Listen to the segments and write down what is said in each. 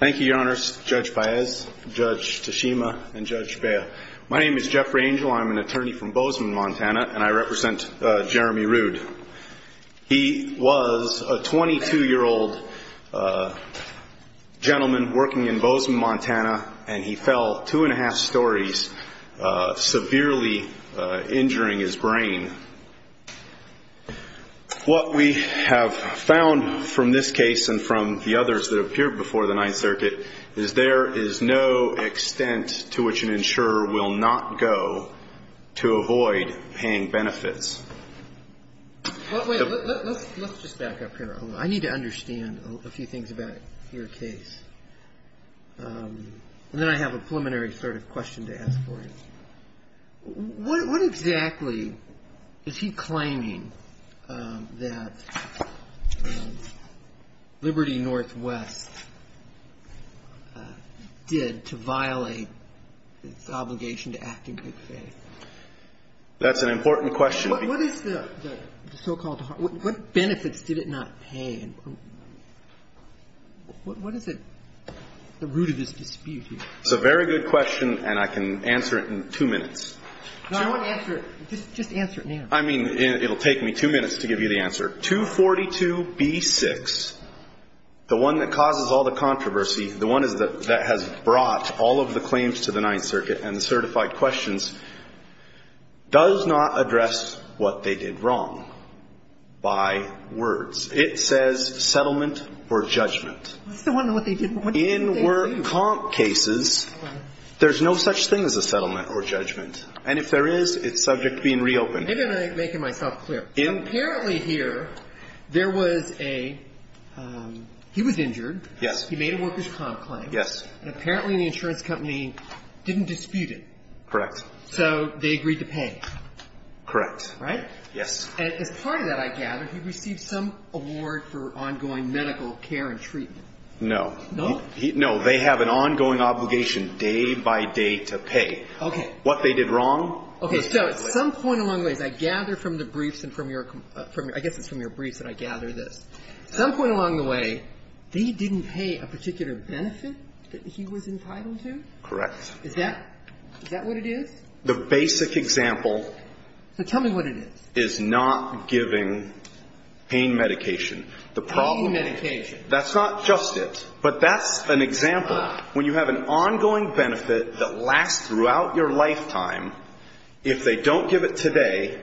Thank you, Your Honors, Judge Paez, Judge Tashima, and Judge Speer. My name is Jeffrey Angel. I'm an attorney from Bozeman, Montana, and I represent Jeremy Ruhd. He was a 22-year-old gentleman working in Bozeman, Montana, and he fell two and a half stories, severely injuring his brain. What we have found from this case and from the others that appeared before the Ninth Circuit is there is no extent to which an insurer will not go to avoid paying benefits. Let's just back up here. I need to understand a few things about your case. And then I have a preliminary sort of question to ask for you. What exactly is he claiming that Liberty NW did to violate its obligation to act in good faith? That's an important question. What is the so-called – what benefits did it not pay? What is the root of this dispute here? It's a very good question, and I can answer it in two minutes. No, I want to answer it. Just answer it now. I mean, it'll take me two minutes to give you the answer. 242B6, the one that causes all the controversy, the one that has brought all of the claims to the Ninth Circuit and the certified questions, does not address what they did wrong by words. It says settlement or judgment. I still want to know what they did wrong. In work comp cases, there's no such thing as a settlement or judgment. And if there is, it's subject to being reopened. Let me make it myself clear. Apparently here, there was a – he was injured. Yes. He made a worker's comp claim. Yes. And apparently the insurance company didn't dispute it. Correct. So they agreed to pay. Correct. Yes. And as part of that, I gather, he received some award for ongoing medical care and treatment. No. No? No. They have an ongoing obligation, day by day, to pay. Okay. What they did wrong. Okay. So at some point along the way, I gather from the briefs and from your – I guess it's from your briefs that I gather this. Some point along the way, they didn't pay a particular benefit that he was entitled to? Correct. Is that – is that what it is? The basic example – So tell me what it is. Is not giving pain medication. Pain medication. That's not just it. But that's an example. When you have an ongoing benefit that lasts throughout your lifetime, if they don't give it today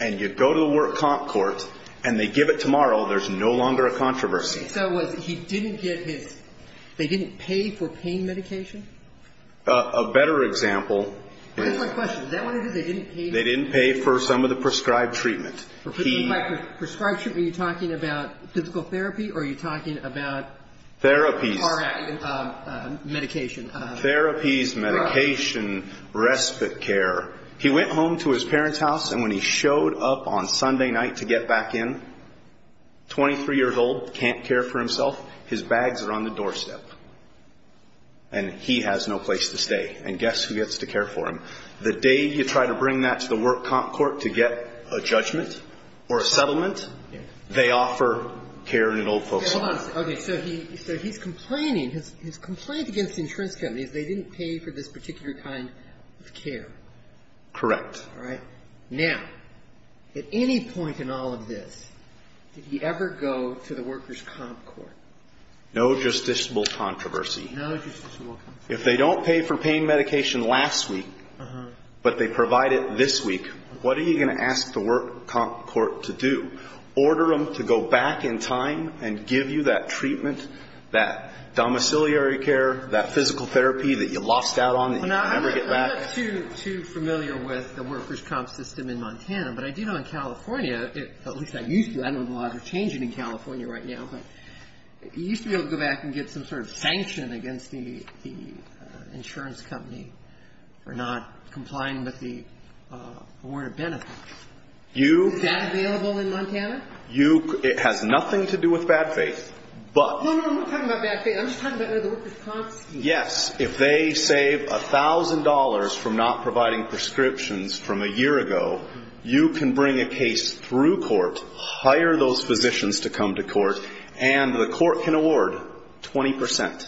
and you go to the work comp court and they give it tomorrow, there's no longer a controversy. So was – he didn't get his – they didn't pay for pain medication? A better example is – What is my question? Is that what it is? They didn't pay for pain medication? They didn't pay for some of the prescribed treatment. Are you talking about physical therapy or are you talking about Therapies. Medication. Therapies, medication, respite care. He went home to his parents' house and when he showed up on Sunday night to get back in, 23 years old, can't care for himself, his bags are on the doorstep. And he has no place to stay. And guess who gets to care for him? The day you try to bring that to the work comp court to get a judgment or a settlement, they offer care in an old folks' home. Hold on a second. Okay, so he's complaining. His complaint against the insurance company is they didn't pay for this particular kind of care. Correct. All right. Now, at any point in all of this, did he ever go to the workers' comp court? No justiciable controversy. No justiciable controversy. If they don't pay for pain medication last week, but they provide it this week, what are you going to ask the work comp court to do? Order them to go back in time and give you that treatment, that domiciliary care, that physical therapy that you lost out on and you can never get back? I'm not too familiar with the workers' comp system in Montana, but I do know in California, at least I used to. I don't know how they're changing in California right now, but you used to be able to go back and get some sort of sanction against the insurance company for not complying with the award of benefits. Is that available in Montana? It has nothing to do with bad faith. No, no, I'm not talking about bad faith. I'm just talking about the workers' comp scheme. Yes, if they save $1,000 from not providing prescriptions from a year ago, you can bring a case through court, hire those physicians to come to court, and the court can award 20 percent.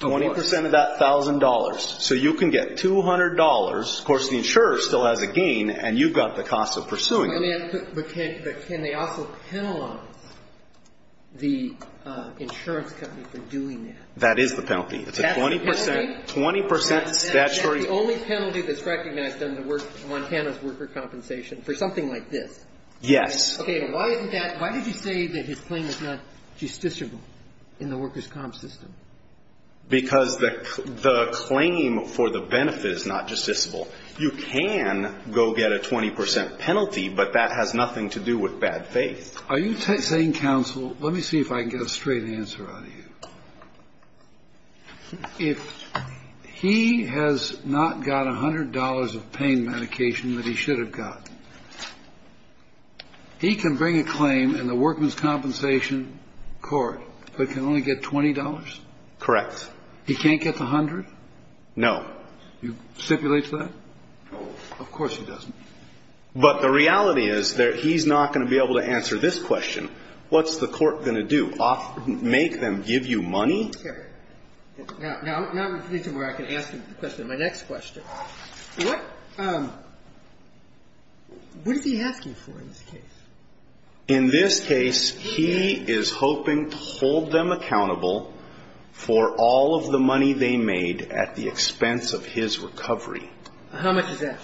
Of course. 20 percent of that $1,000. So you can get $200. Of course, the insurer still has a gain, and you've got the cost of pursuing it. But can they also penalize the insurance company for doing that? That is the penalty. It's a 20 percent, 20 percent statutory penalty. That's the only penalty that's recognized under Montana's worker compensation for something like this? Yes. Okay. Why is that? Why did you say that his claim is not justiciable in the workers' comp system? Because the claim for the benefit is not justiciable. You can go get a 20 percent penalty, but that has nothing to do with bad faith. Are you saying, counsel, let me see if I can get a straight answer out of you. If he has not got $100 of pain medication that he should have got, he can bring a claim in the workmen's compensation court, but can only get $20? Correct. He can't get the $100? No. You stipulate that? No. Of course he doesn't. But the reality is that he's not going to be able to answer this question. What's the court going to do? Make them give you money? Sure. Now I'm getting to where I can ask him the question. My next question. What is he asking for in this case? In this case, he is hoping to hold them accountable for all of the money they made at the expense of his recovery. How much is that?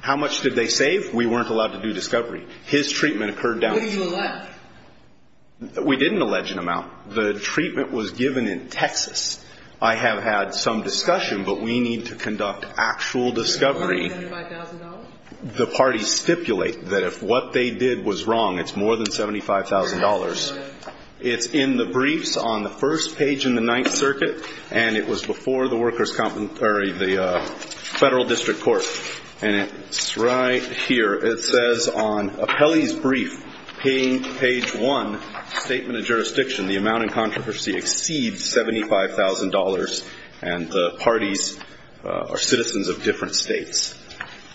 How much did they save? We weren't allowed to do discovery. His treatment occurred down to that. We didn't allege an amount. The treatment was given in Texas. I have had some discussion, but we need to conduct actual discovery. $75,000? The parties stipulate that if what they did was wrong, it's more than $75,000. It's in the briefs on the first page in the Ninth Circuit, and it was before the Federal District Court. And it's right here. It says on Apelli's brief, page 1, Statement of Jurisdiction, the amount in controversy exceeds $75,000, and the parties are citizens of different states.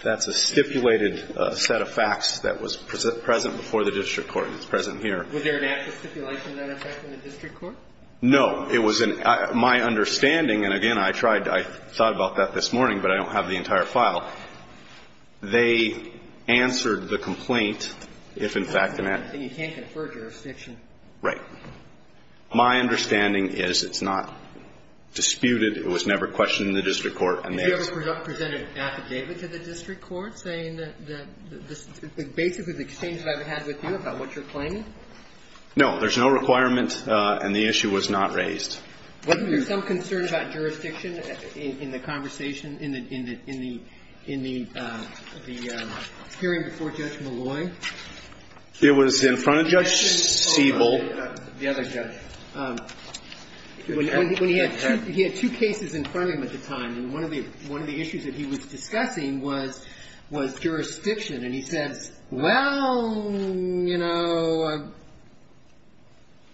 That's a stipulated set of facts that was present before the District Court and is present here. Was there an active stipulation of that effect in the District Court? No. It was in my understanding, and again, I tried to – Well, they answered the complaint if, in fact, an act – You can't confer jurisdiction. Right. My understanding is it's not disputed. It was never questioned in the District Court, and they – Did you ever present an affidavit to the District Court saying that this – basically the exchange that I've had with you about what you're claiming? No. There's no requirement, and the issue was not raised. Wasn't there some concern about jurisdiction in the conversation, in the hearing before Judge Malloy? It was in front of Judge Siebel. The other judge. When he had two cases in front of him at the time, and one of the issues that he was discussing was jurisdiction. And he said, well, you know, I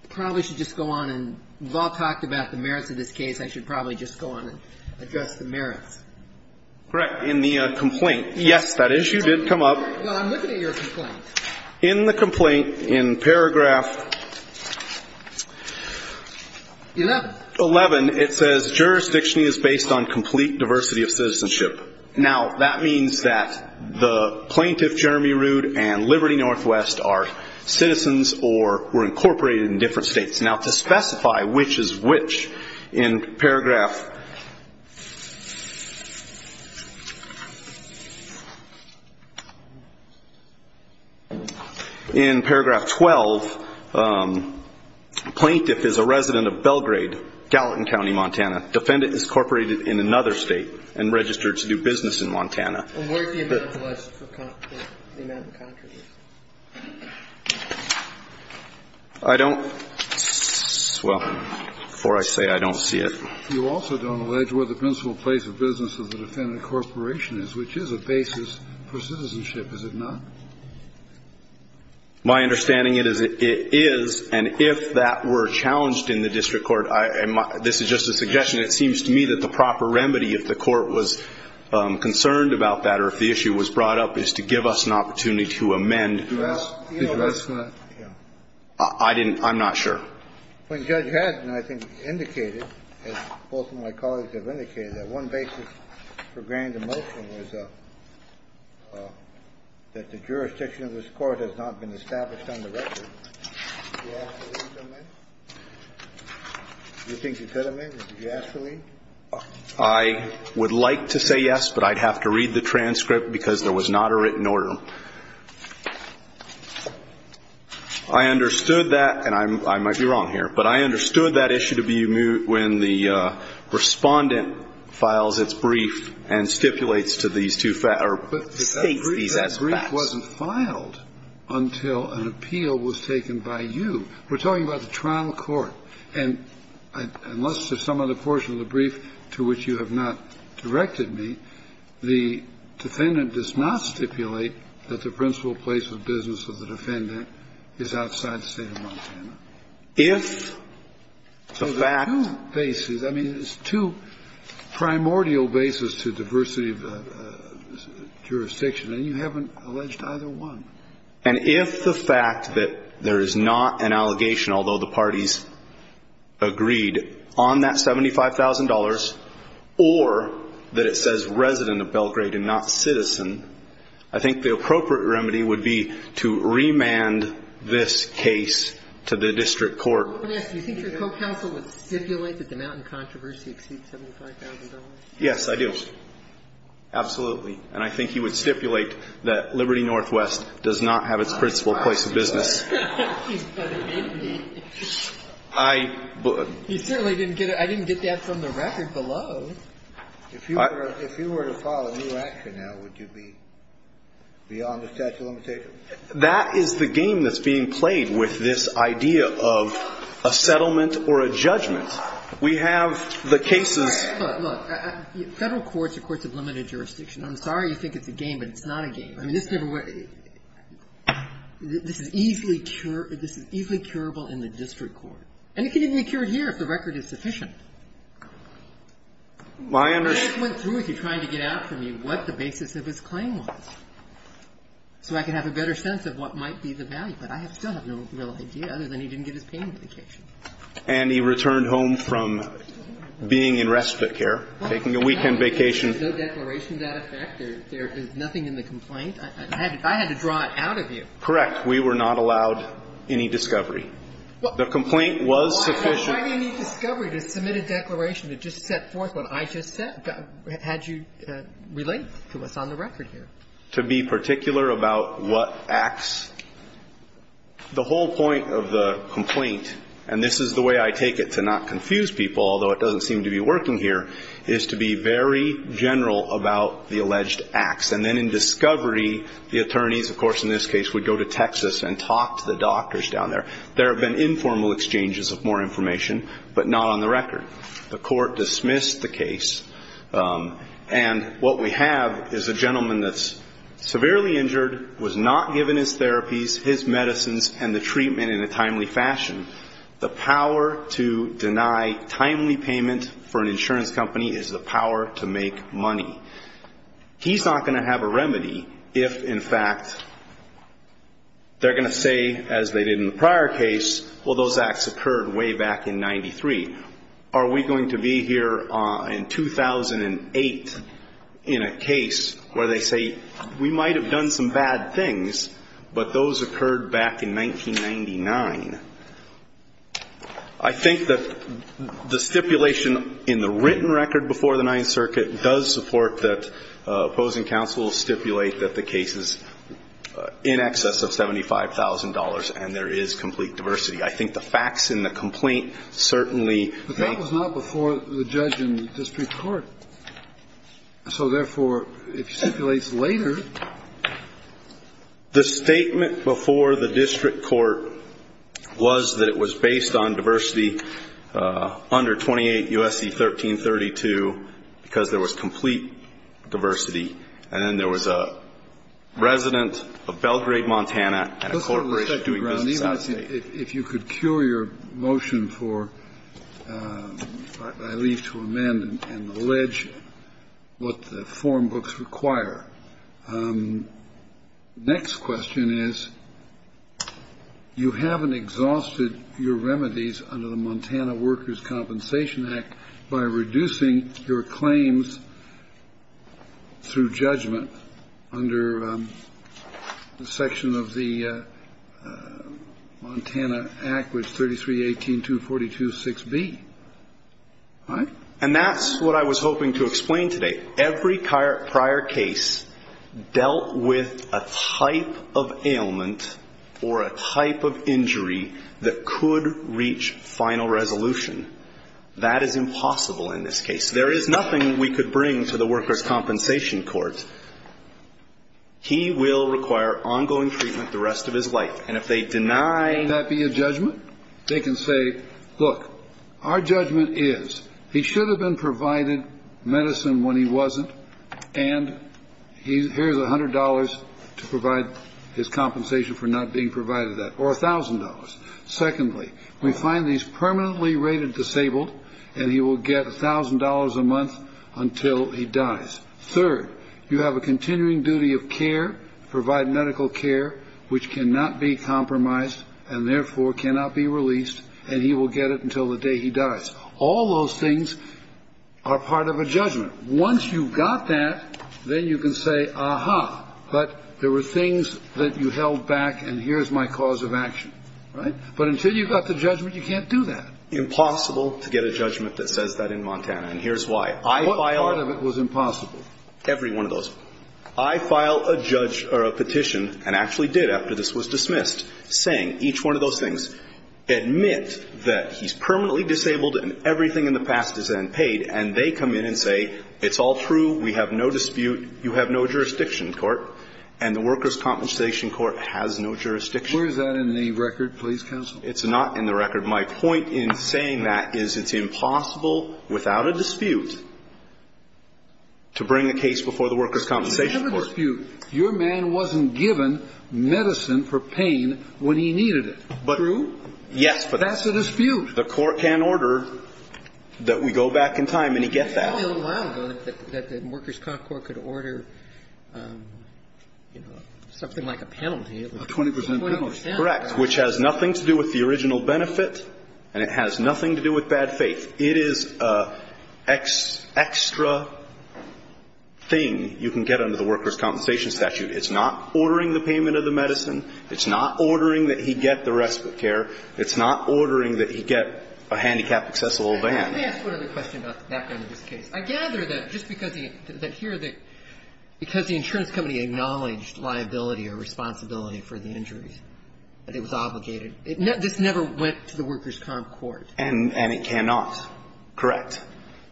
probably should just go on and – we've all talked about the merits of this case. I should probably just go on and address the merits. Correct. In the complaint, yes, that issue did come up. Well, I'm looking at your complaint. In the complaint, in paragraph 11, it says, jurisdiction is based on complete diversity of citizenship. Now, that means that the plaintiff, Jeremy Rood, and Liberty Northwest are citizens or were incorporated in different states. Now, to specify which is which, in paragraph 12, plaintiff is a resident of Belgrade, Gallatin County, Montana. Defendant is incorporated in another state and registered to do business in Montana. I don't – well, before I say it, I don't see it. You also don't allege where the principal place of business of the defendant corporation is, which is a basis for citizenship, is it not? My understanding is it is. And if that were challenged in the district court, this is just a suggestion. It seems to me that the proper remedy, if the court was concerned about that or if the issue was brought up, is to give us an opportunity to amend. I didn't – I'm not sure. When Judge Haddon, I think, indicated, as both of my colleagues have indicated, that one basis for granting the motion was that the jurisdiction of this court has not been established on the record. Do you think you could amend it? Did you ask for me? I would like to say yes, but I'd have to read the transcript because there was not a written order. I understood that, and I might be wrong here, but I understood that issue to be when the Respondent files its brief and stipulates to these two – or states these as facts. The brief wasn't filed until an appeal was taken by you. We're talking about the trial court. And unless there's some other portion of the brief to which you have not directed me, the Defendant does not stipulate that the principal place of business of the Defendant is outside the State of Montana. If the fact – So there are two bases. I mean, there's two primordial bases to diversity of jurisdiction. And you haven't alleged either one. And if the fact that there is not an allegation, although the parties agreed on that $75,000, or that it says resident of Belgrade and not citizen, I think the appropriate remedy would be to remand this case to the district court. Yes. Do you think your co-counsel would stipulate that the Mountain controversy exceeds $75,000? Yes, I do. Absolutely. And I think he would stipulate that Liberty Northwest does not have its principal place of business. He certainly didn't get it. I didn't get that from the record below. If you were to file a new action now, would you be beyond the statute of limitations? That is the game that's being played with this idea of a settlement or a judgment. We have the cases – Look, Federal courts are courts of limited jurisdiction. I'm sorry you think it's a game, but it's not a game. I mean, this is easily cure – this is easily curable in the district court. And it can even be cured here if the record is sufficient. I just went through, if you're trying to get out from me, what the basis of his claim was, so I can have a better sense of what might be the value. But I still have no real idea, other than he didn't give his pain indication. And he returned home from being in respite care, taking a weekend vacation. There's no declaration to that effect? There is nothing in the complaint? I had to draw it out of you. Correct. We were not allowed any discovery. The complaint was sufficient. Why do you need discovery to submit a declaration that just set forth what I just said, had you relayed to us on the record here? To be particular about what acts – the whole point of the complaint, and this is the way I take it to not confuse people, although it doesn't seem to be working here, is to be very general about the alleged acts. And then in discovery, the attorneys, of course, in this case, would go to Texas and talk to the doctors down there. There have been informal exchanges of more information, but not on the record. The court dismissed the case. And what we have is a gentleman that's severely injured, was not given his therapies, his medicines, and the treatment in a timely fashion. The power to deny timely payment for an insurance company is the power to make money. He's not going to have a remedy if, in fact, they're going to say, as they did in the prior case, well, those acts occurred way back in 1993. Are we going to be here in 2008 in a case where they say, we might have done some bad things, but those occurred back in 1999? I think that the stipulation in the written record before the Ninth Circuit does support that opposing counsels stipulate that the case is in excess of $75,000 and there is complete diversity. I think the facts in the complaint certainly make the case. But that was not before the judge in the district court. So, therefore, it stipulates later. The statement before the district court was that it was based on diversity under 28 U.S.C. 1332 because there was complete diversity, and then there was a resident of Belgrade, Montana, and a corporation doing business in the area. I don't know if you could cure your motion for, I leave to amend and allege what the form books require. Next question is, you haven't exhausted your remedies under the Montana Workers' Compensation Act by reducing your claims through judgment under the section of the Montana Act, which 3318.242.6b, right? And that's what I was hoping to explain today. Every prior case dealt with a type of ailment or a type of injury that could reach final resolution. That is impossible in this case. There is nothing we could bring to the workers' compensation court. He will require ongoing treatment the rest of his life. And if they deny ---- Can that be a judgment? They can say, look, our judgment is he should have been provided medicine when he wasn't, and here's $100 to provide his compensation for not being provided that, or $1,000. Secondly, we find he's permanently rated disabled, and he will get $1,000 a month until he dies. Third, you have a continuing duty of care, provide medical care, which cannot be compromised and therefore cannot be released, and he will get it until the day he dies. All those things are part of a judgment. Once you've got that, then you can say, aha, but there were things that you held back, and here's my cause of action. Right? But until you've got the judgment, you can't do that. Impossible to get a judgment that says that in Montana, and here's why. I file a ---- What part of it was impossible? Every one of those. I file a judge or a petition, and actually did after this was dismissed, saying each one of those things. Admit that he's permanently disabled and everything in the past is then paid, and they come in and say, it's all true, we have no dispute, you have no jurisdiction in court, and the Workers' Compensation Court has no jurisdiction. Where is that in the record, please, counsel? It's not in the record. My point in saying that is it's impossible without a dispute to bring a case before the Workers' Compensation Court. You have a dispute. Your man wasn't given medicine for pain when he needed it. True? Yes. But that's a dispute. The court can order that we go back in time, and he gets that. It was only a little while ago that the Workers' Compensation Court could order, you know, something like a penalty. A 20 percent penalty. Correct, which has nothing to do with the original benefit, and it has nothing to do with bad faith. It is an extra thing you can get under the Workers' Compensation statute. It's not ordering the payment of the medicine. It's not ordering that he get the respite care. It's not ordering that he get a handicap accessible van. Let me ask one other question about the background of this case. I gather that just because the insurance company acknowledged liability or responsibility for the injuries, that it was obligated. This never went to the Workers' Comp Court. And it cannot. Correct.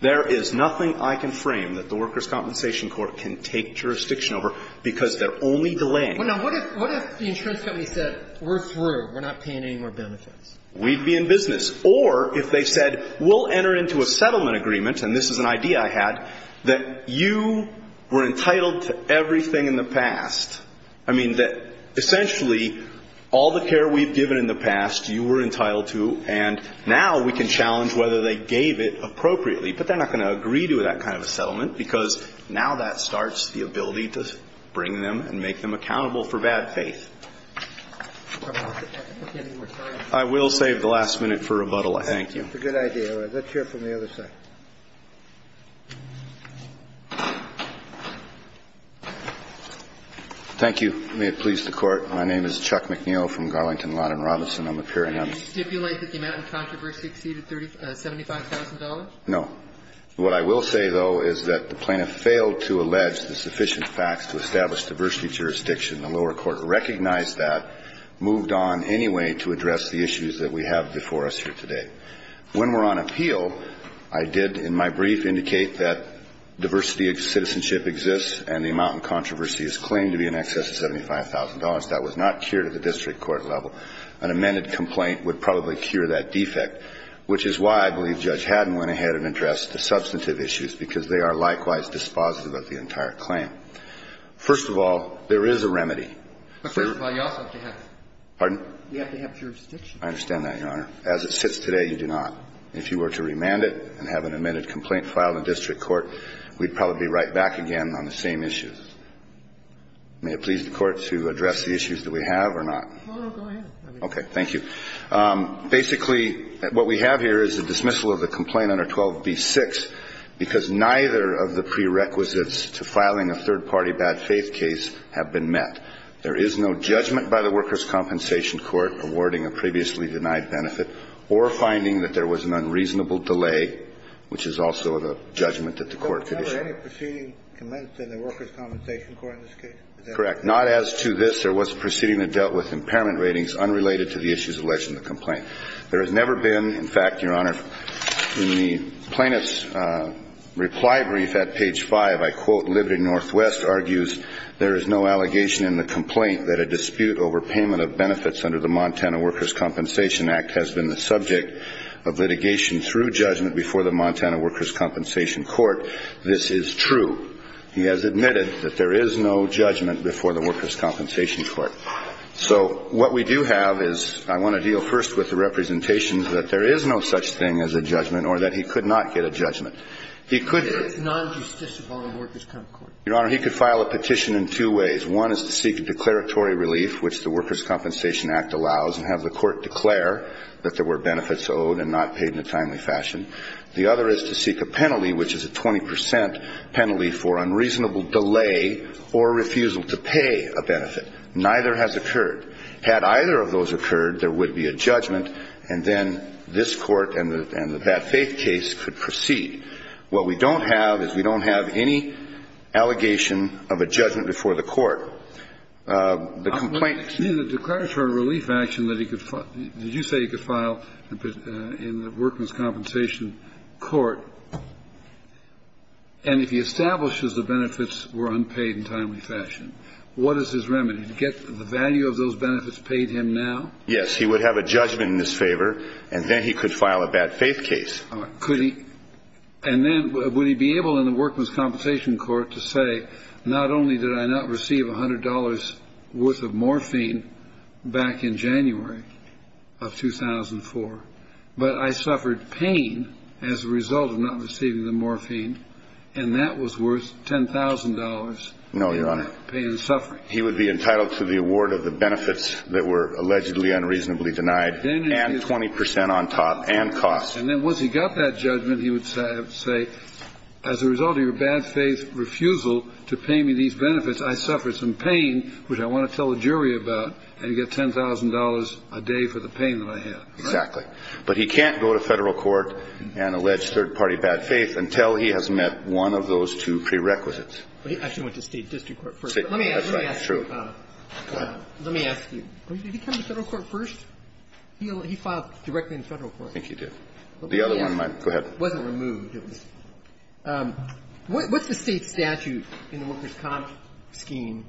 There is nothing I can frame that the Workers' Compensation Court can take jurisdiction over because they're only delaying. Now, what if the insurance company said, we're through, we're not paying any more benefits? We'd be in business. Or if they said, we'll enter into a settlement agreement, and this is an idea I had, that you were entitled to everything in the past. I mean, that essentially all the care we've given in the past, you were entitled to, and now we can challenge whether they gave it appropriately. But they're not going to agree to that kind of a settlement because now that starts the ability to bring them and make them accountable for bad faith. I will save the last minute for rebuttal. Thank you. That's a good idea. Let's hear it from the other side. Thank you. May it please the Court. My name is Chuck McNeil from Garlington Law and Robertson. I'm appearing on this case. Do you stipulate that the amount of controversy exceeded $75,000? No. What I will say, though, is that the plaintiff failed to allege the sufficient facts to establish diversity jurisdiction. The lower court recognized that, moved on anyway to address the issues that we have before us here today. When we're on appeal, I did in my brief indicate that diversity of citizenship exists and the amount of controversy is claimed to be in excess of $75,000. That was not cured at the district court level. An amended complaint would probably cure that defect, which is why I believe Judge Haddon went ahead and addressed the substantive issues because they are likewise dispositive of the entire claim. First of all, there is a remedy. First of all, you also have to have jurisdiction. Pardon? You have to have jurisdiction. I understand that, Your Honor. As it sits today, you do not. If you were to remand it and have an amended complaint filed in district court, we'd probably be right back again on the same issues. May it please the Court to address the issues that we have or not? Go ahead. Okay. Basically, what we have here is a dismissal of the complaint under 12b-6 because neither of the prerequisites to filing a third-party bad faith case have been met. There is no judgment by the Workers' Compensation Court awarding a previously denied benefit or finding that there was an unreasonable delay, which is also the judgment that the Court could issue. Never any proceeding commenced in the Workers' Compensation Court in this case? Is that correct? Correct. Not as to this. There was a proceeding that dealt with impairment ratings unrelated to the issues alleged in the complaint. There has never been. In fact, Your Honor, in the plaintiff's reply brief at page 5, I quote, Liberty Northwest argues, there is no allegation in the complaint that a dispute over payment of benefits under the Montana Workers' Compensation Act has been the subject of litigation through judgment before the Montana Workers' Compensation Court. This is true. He has admitted that there is no judgment before the Workers' Compensation Court. So what we do have is I want to deal first with the representations that there is no such thing as a judgment or that he could not get a judgment. He could. It's non-justice of all the Workers' Compensation Court. Your Honor, he could file a petition in two ways. One is to seek a declaratory relief, which the Workers' Compensation Act allows, and have the Court declare that there were benefits owed and not paid in a timely fashion. The other is to seek a penalty, which is a 20 percent penalty for unreasonable delay or refusal to pay a benefit. Neither has occurred. Had either of those occurred, there would be a judgment. And then this Court and the bad faith case could proceed. What we don't have is we don't have any allegation of a judgment before the Court. The complaint ---- The declaratory relief action that he could ---- you say he could file in the Workers' Compensation Court, and if he establishes the benefits were unpaid in timely fashion, what is his remedy? Get the value of those benefits paid him now? Yes. He would have a judgment in his favor, and then he could file a bad faith case. Could he? And then would he be able in the Workers' Compensation Court to say, not only did I not receive $100 worth of morphine back in January of 2004, but I suffered pain as a result of not receiving the morphine, and that was worth $10,000 in pain and suffering? No, Your Honor. He would be entitled to the award of the benefits that were allegedly unreasonably denied and 20 percent on top and cost. And then once he got that judgment, he would have to say, as a result of your bad faith refusal to pay me these benefits, I suffered some pain which I want to tell the jury about, and you get $10,000 a day for the pain that I had. Exactly. But he can't go to Federal court and allege third-party bad faith until he has met one of those two prerequisites. I actually went to State district court first. That's right. That's true. Let me ask you. Did he come to Federal court first? He filed directly in Federal court. I think he did. The other one might. Go ahead. It wasn't removed. What's the State statute in the Workers' Comp scheme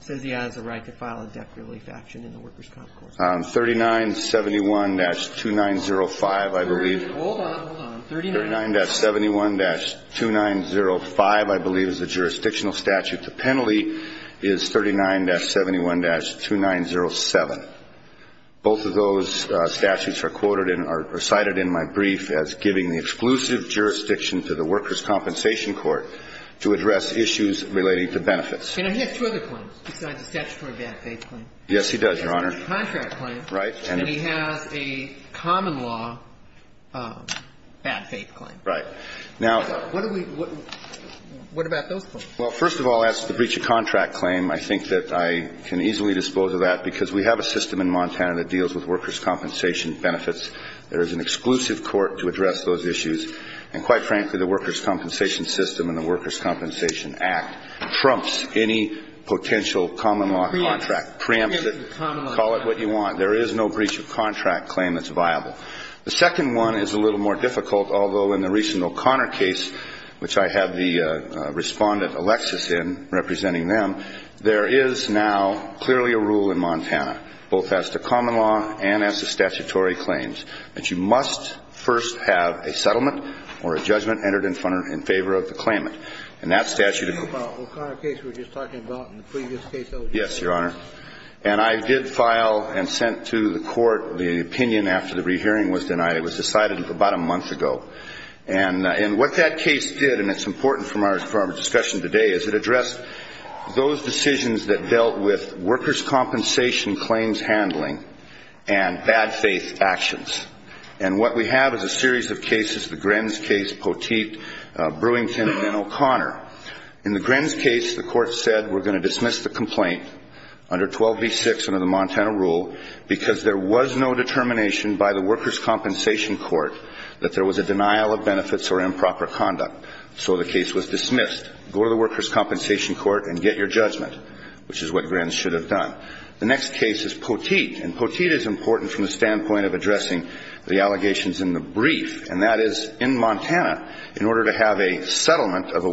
says he has a right to file a death relief action in the Workers' Comp Court? 3971-2905, I believe. Hold on. Hold on. 39-71-2905, I believe, is the jurisdictional statute. The penalty is 39-71-2907. Both of those statutes are quoted and are cited in my brief as giving the exclusive jurisdiction to the Workers' Compensation Court to address issues relating to benefits. And he has two other claims besides the statutory bad faith claim. Yes, he does, Your Honor. He has a contract claim. Right. And he has a common law bad faith claim. Right. Now, what do we ñ what about those claims? Well, first of all, as to the breach of contract claim, I think that I can easily dispose of that because we have a system in Montana that deals with workers' compensation benefits. There is an exclusive court to address those issues. And quite frankly, the Workers' Compensation System and the Workers' Compensation Act trumps any potential common law contract, preempts it. Call it what you want. There is no breach of contract claim that's viable. The second one is a little more difficult, although in the recent O'Connor case, which I have the Respondent, Alexis, in representing them, there is now clearly a rule in Montana, both as to common law and as to statutory claims, that you must first have a settlement or a judgment entered in favor of the claimant. And that statute is ñ O'Connor case we were just talking about in the previous case. Yes, Your Honor. And I did file and sent to the court the opinion after the rehearing was denied. It was decided about a month ago. And what that case did, and it's important for our discussion today, is it addressed those decisions that dealt with workers' compensation claims handling and bad faith actions. And what we have is a series of cases, the Grens case, Poteet, Brewington, and then O'Connor. In the Grens case, the court said we're going to dismiss the complaint under 12b-6 under the Montana rule because there was no determination by the workers' compensation court that there was a denial of benefits or improper conduct. So the case was dismissed. Go to the workers' compensation court and get your judgment, which is what Grens should have done. The next case is Poteet. And Poteet is important from the standpoint of addressing the allegations in the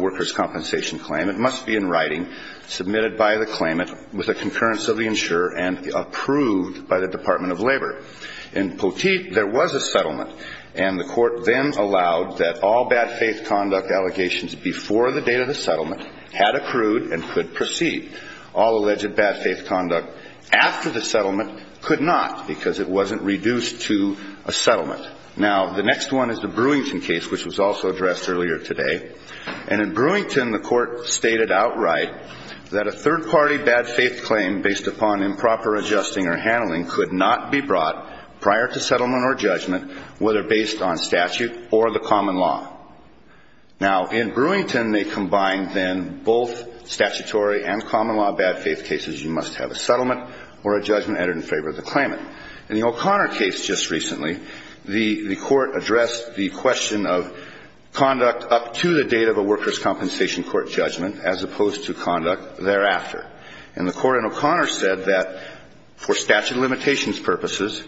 workers' compensation claim. It must be in writing, submitted by the claimant with a concurrence of the insurer and approved by the Department of Labor. In Poteet, there was a settlement. And the court then allowed that all bad faith conduct allegations before the date of the settlement had accrued and could proceed. All alleged bad faith conduct after the settlement could not because it wasn't reduced to a settlement. Now, the next one is the Brewington case, which was also addressed earlier today. And in Brewington, the court stated outright that a third-party bad faith claim based upon improper adjusting or handling could not be brought prior to settlement or judgment, whether based on statute or the common law. Now, in Brewington, they combined then both statutory and common law bad faith cases. You must have a settlement or a judgment added in favor of the claimant. In the O'Connor case just recently, the court addressed the question of conduct up to the date of a workers' compensation court judgment as opposed to conduct thereafter. And the court in O'Connor said that for statute of limitations purposes,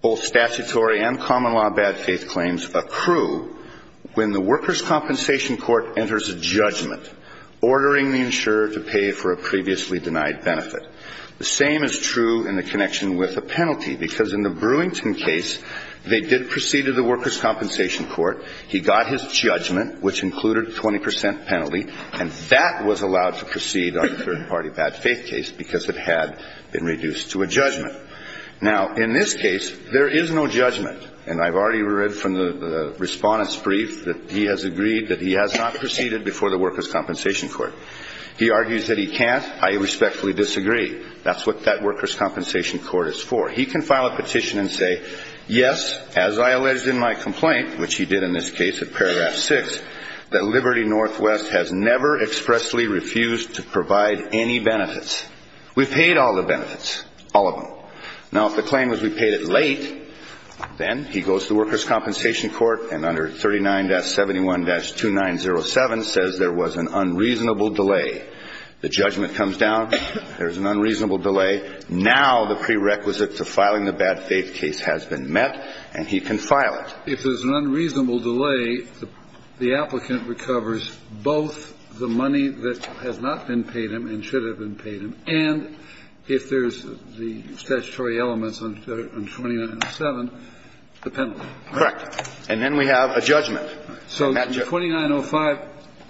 both statutory and common law bad faith claims accrue when the workers' compensation court enters a judgment, ordering the insurer to pay for a previously denied benefit. The same is true in the connection with a penalty, because in the Brewington case, they did proceed to the workers' compensation court. He got his judgment, which included 20 percent penalty, and that was allowed to proceed on a third-party bad faith case because it had been reduced to a judgment. Now, in this case, there is no judgment. And I've already read from the Respondent's brief that he has agreed that he has not proceeded before the workers' compensation court. He argues that he can't. I respectfully disagree. That's what that workers' compensation court is for. He can file a petition and say, yes, as I alleged in my complaint, which he did in this case at paragraph 6, that Liberty Northwest has never expressly refused to provide any benefits. We paid all the benefits, all of them. Now, if the claim was we paid it late, then he goes to the workers' compensation court and under 39-71-2907 says there was an unreasonable delay. The judgment comes down. There's an unreasonable delay. Now the prerequisite to filing the bad faith case has been met, and he can file it. If there's an unreasonable delay, the applicant recovers both the money that has not been paid him and should have been paid him, and if there's the statutory elements on 2907, the penalty. Correct. And then we have a judgment. So 2905,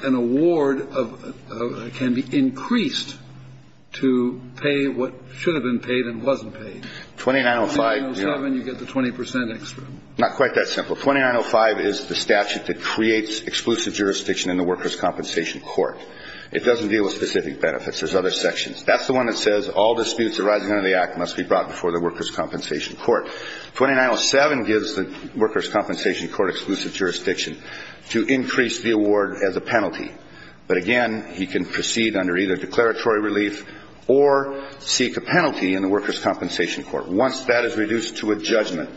an award can be increased to pay what should have been paid and wasn't paid. 2905. 2907, you get the 20 percent extra. Not quite that simple. 2905 is the statute that creates exclusive jurisdiction in the workers' compensation court. It doesn't deal with specific benefits. There's other sections. That's the one that says all disputes arising under the Act must be brought before the workers' compensation court. 2907 gives the workers' compensation court exclusive jurisdiction to increase the award as a penalty. But again, he can proceed under either declaratory relief or seek a penalty in the workers' compensation court. Once that is reduced to a judgment,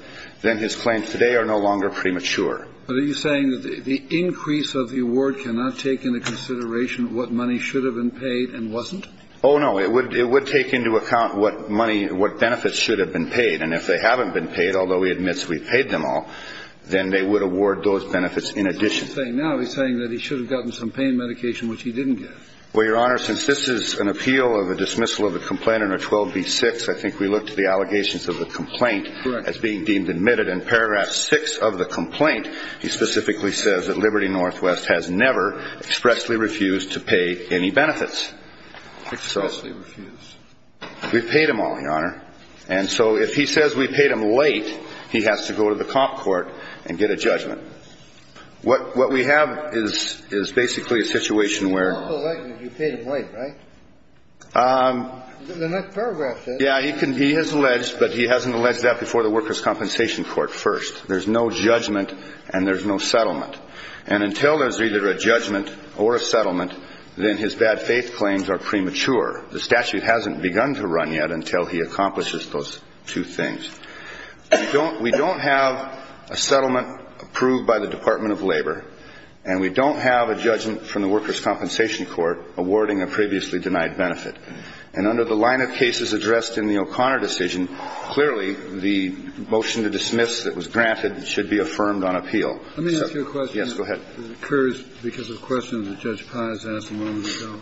then his claims today are no longer premature. But are you saying that the increase of the award cannot take into consideration what money should have been paid and wasn't? Oh, no. It would take into account what money, what benefits should have been paid, and if they haven't been paid, although he admits we paid them all, then they would award those benefits in addition. What is he saying now? He's saying that he should have gotten some pain medication, which he didn't get. Well, Your Honor, since this is an appeal of a dismissal of a complaint under 12b-6, I think we look to the allegations of the complaint as being deemed admitted. Correct. In paragraph 6 of the complaint, he specifically says that Liberty Northwest has never expressly refused to pay any benefits. Expressly refused. We paid them all, Your Honor. And so if he says we paid them late, he has to go to the comp court and get a judgment. What we have is basically a situation where he has alleged, but he hasn't alleged that before the workers' compensation court first. There's no judgment and there's no settlement. And until there's either a judgment or a settlement, then his bad faith claims are premature. The statute hasn't begun to run yet until he accomplishes those two things. We don't have a settlement approved by the Department of Labor, and we don't have a judgment from the workers' compensation court awarding a previously denied benefit. And under the line of cases addressed in the O'Connor decision, clearly the motion to dismiss that was granted should be affirmed on appeal. Yes, go ahead. It occurs because of a question that Judge Pye has asked a moment ago.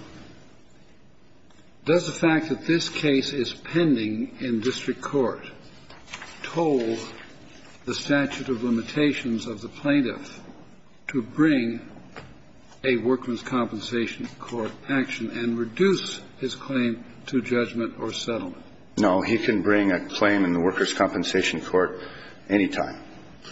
Does the fact that this case is pending in district court toll the statute of limitations of the plaintiff to bring a workers' compensation court action and reduce his claim to judgment or settlement? No. He can bring a claim in the workers' compensation court any time.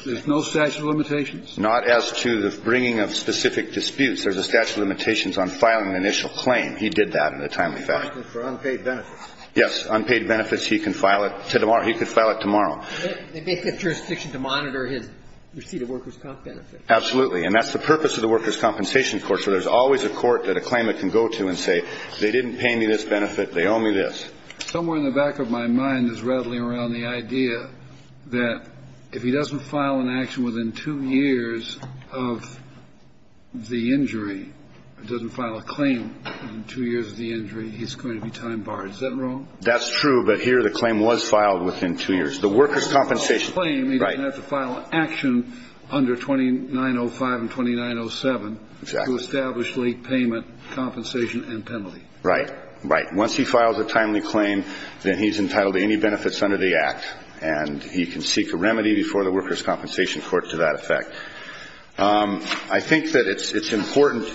There's no statute of limitations? Not as to the bringing of specific disputes. There's a statute of limitations on filing an initial claim. He did that in a timely fashion. For unpaid benefits? Yes. Unpaid benefits, he can file it to tomorrow. He could file it tomorrow. They make that jurisdiction to monitor his receipt of workers' comp benefits. Absolutely. And that's the purpose of the workers' compensation court, so there's always a court that a claimant can go to and say, they didn't pay me this benefit, they owe me this. Somewhere in the back of my mind is rattling around the idea that if he doesn't file an action within two years of the injury, doesn't file a claim within two years of the injury, he's going to be time barred. Is that wrong? That's true, but here the claim was filed within two years. The workers' compensation. He doesn't have to file an action under 2905 and 2907 to establish late payment compensation and penalty. Right. Right. Once he files a timely claim, then he's entitled to any benefits under the act, and he can seek a remedy before the workers' compensation court to that effect. I think that it's important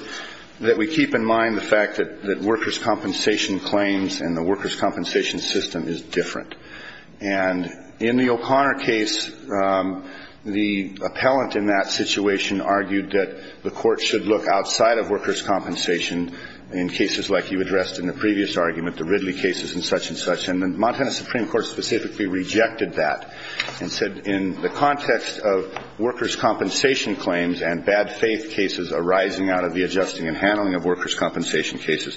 that we keep in mind the fact that workers' compensation claims and the workers' compensation system is different. And in the O'Connor case, the appellant in that situation argued that the court should look outside of workers' compensation in cases like you addressed in the previous argument, the Ridley cases and such and such. And the Montana Supreme Court specifically rejected that and said in the context of workers' compensation claims and bad faith cases arising out of the adjusting and handling of workers' compensation cases,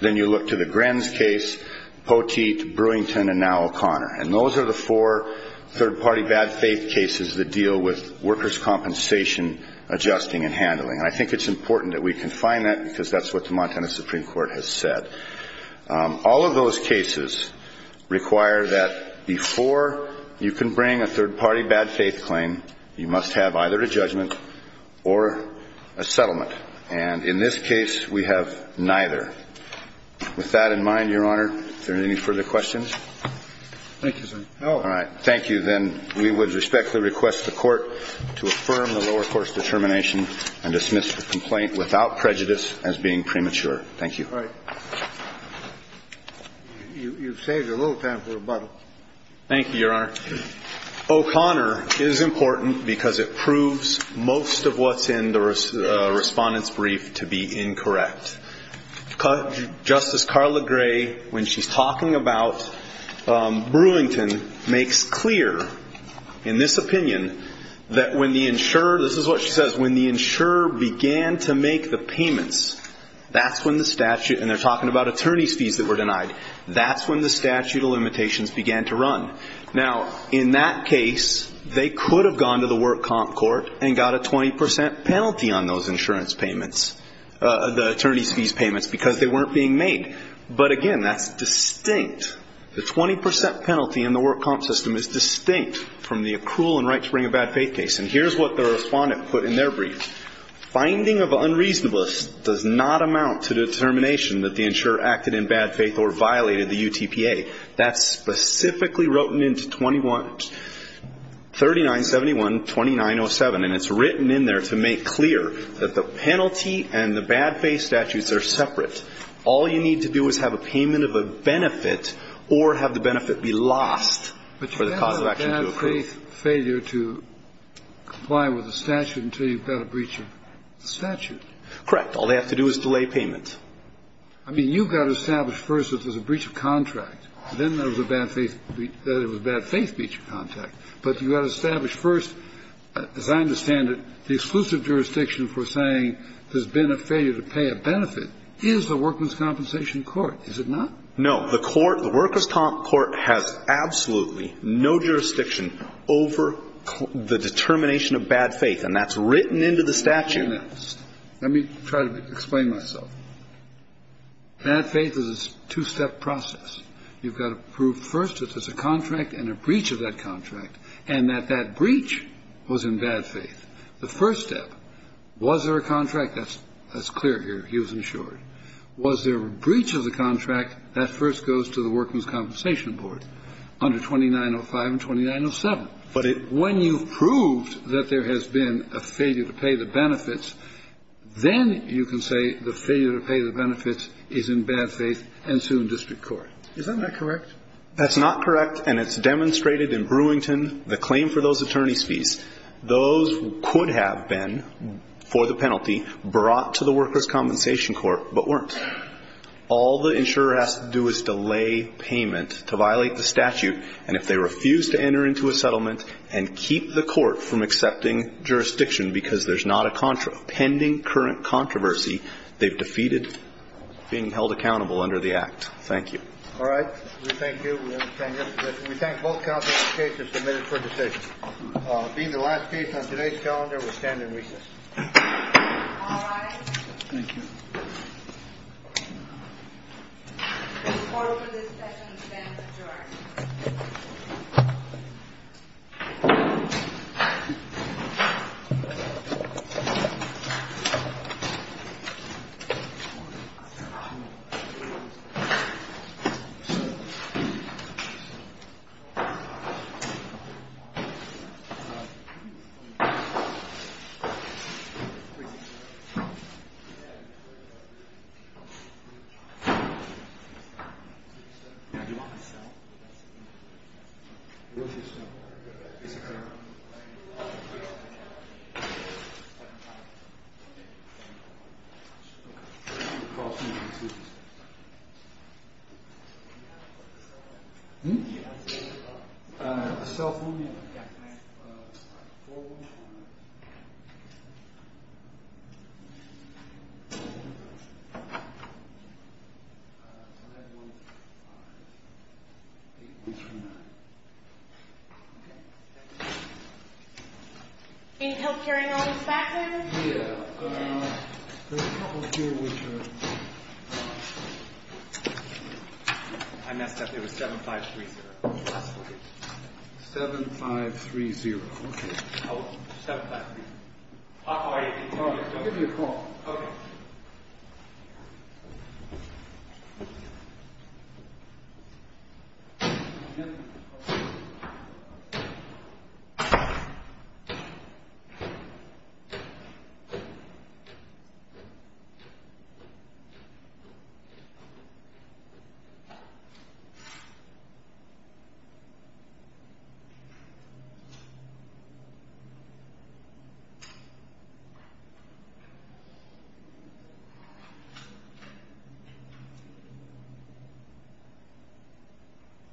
then you look to the Grens case, Poteet, Brewington, and now O'Connor. And those are the four third-party bad faith cases that deal with workers' compensation adjusting and handling. And I think it's important that we confine that because that's what the Montana Supreme Court has said. All of those cases require that before you can bring a third-party bad faith claim, you must have either a judgment or a settlement. And in this case, we have neither. With that in mind, Your Honor, are there any further questions? Thank you, sir. All right. Thank you. Then we would respectfully request the court to affirm the lower court's determination and dismiss the complaint without prejudice as being premature. Thank you. All right. You've saved a little time for rebuttal. Thank you, Your Honor. O'Connor is important because it proves most of what's in the Respondent's Brief to be incorrect. Justice Carla Gray, when she's talking about Brewington, makes clear in this opinion that when the insurer began to make the payments, that's when the statute, and they're talking about attorney's fees that were denied, that's when the statute of limitations began to run. Now, in that case, they could have gone to the work comp court and got a 20% penalty on those insurance payments, the attorney's fees payments, because they weren't being made. But, again, that's distinct. The 20% penalty in the work comp system is distinct from the accrual and right to bring a bad faith case. And here's what the Respondent put in their brief. Finding of unreasonableness does not amount to determination that the insurer acted in bad faith or violated the UTPA. That's specifically written into 2971-2907. And it's written in there to make clear that the penalty and the bad faith statutes are separate. All you need to do is have a payment of a benefit or have the benefit be lost for the cause of action to occur. Kennedy. I mean, you've got to establish first that there's a breach of contract. Then there's a bad faith, that it was a bad faith breach of contract. But you've got to establish first, as I understand it, the exclusive jurisdiction for saying there's been a failure to pay a benefit is the Worker's Compensation Court, is it not? No. The court, the Worker's Comp Court, has absolutely no jurisdiction over that. It's not over the determination of bad faith. And that's written into the statute. Let me try to explain myself. Bad faith is a two-step process. You've got to prove first that there's a contract and a breach of that contract and that that breach was in bad faith. The first step, was there a contract? That's clear here. He was insured. Was there a breach of the contract? That first goes to the Worker's Compensation Board under 2905 and 2907. But it When you've proved that there has been a failure to pay the benefits, then you can say the failure to pay the benefits is in bad faith and sue in district court. Is that not correct? That's not correct. And it's demonstrated in Brewington, the claim for those attorney's fees. Those could have been, for the penalty, brought to the Worker's Compensation Court, but weren't. All the insurer has to do is delay payment to violate the statute, and if they refuse to enter into a settlement and keep the court from accepting jurisdiction because there's not a pending current controversy, they've defeated being held accountable under the act. Thank you. All right. We thank you. We understand your position. We thank both counsels. The case is submitted for decision. Being the last case on today's calendar, we stand in recess. All rise. Thank you. The court for this session stands adjourned. Thank you. Thank you. Thank you. Thank you.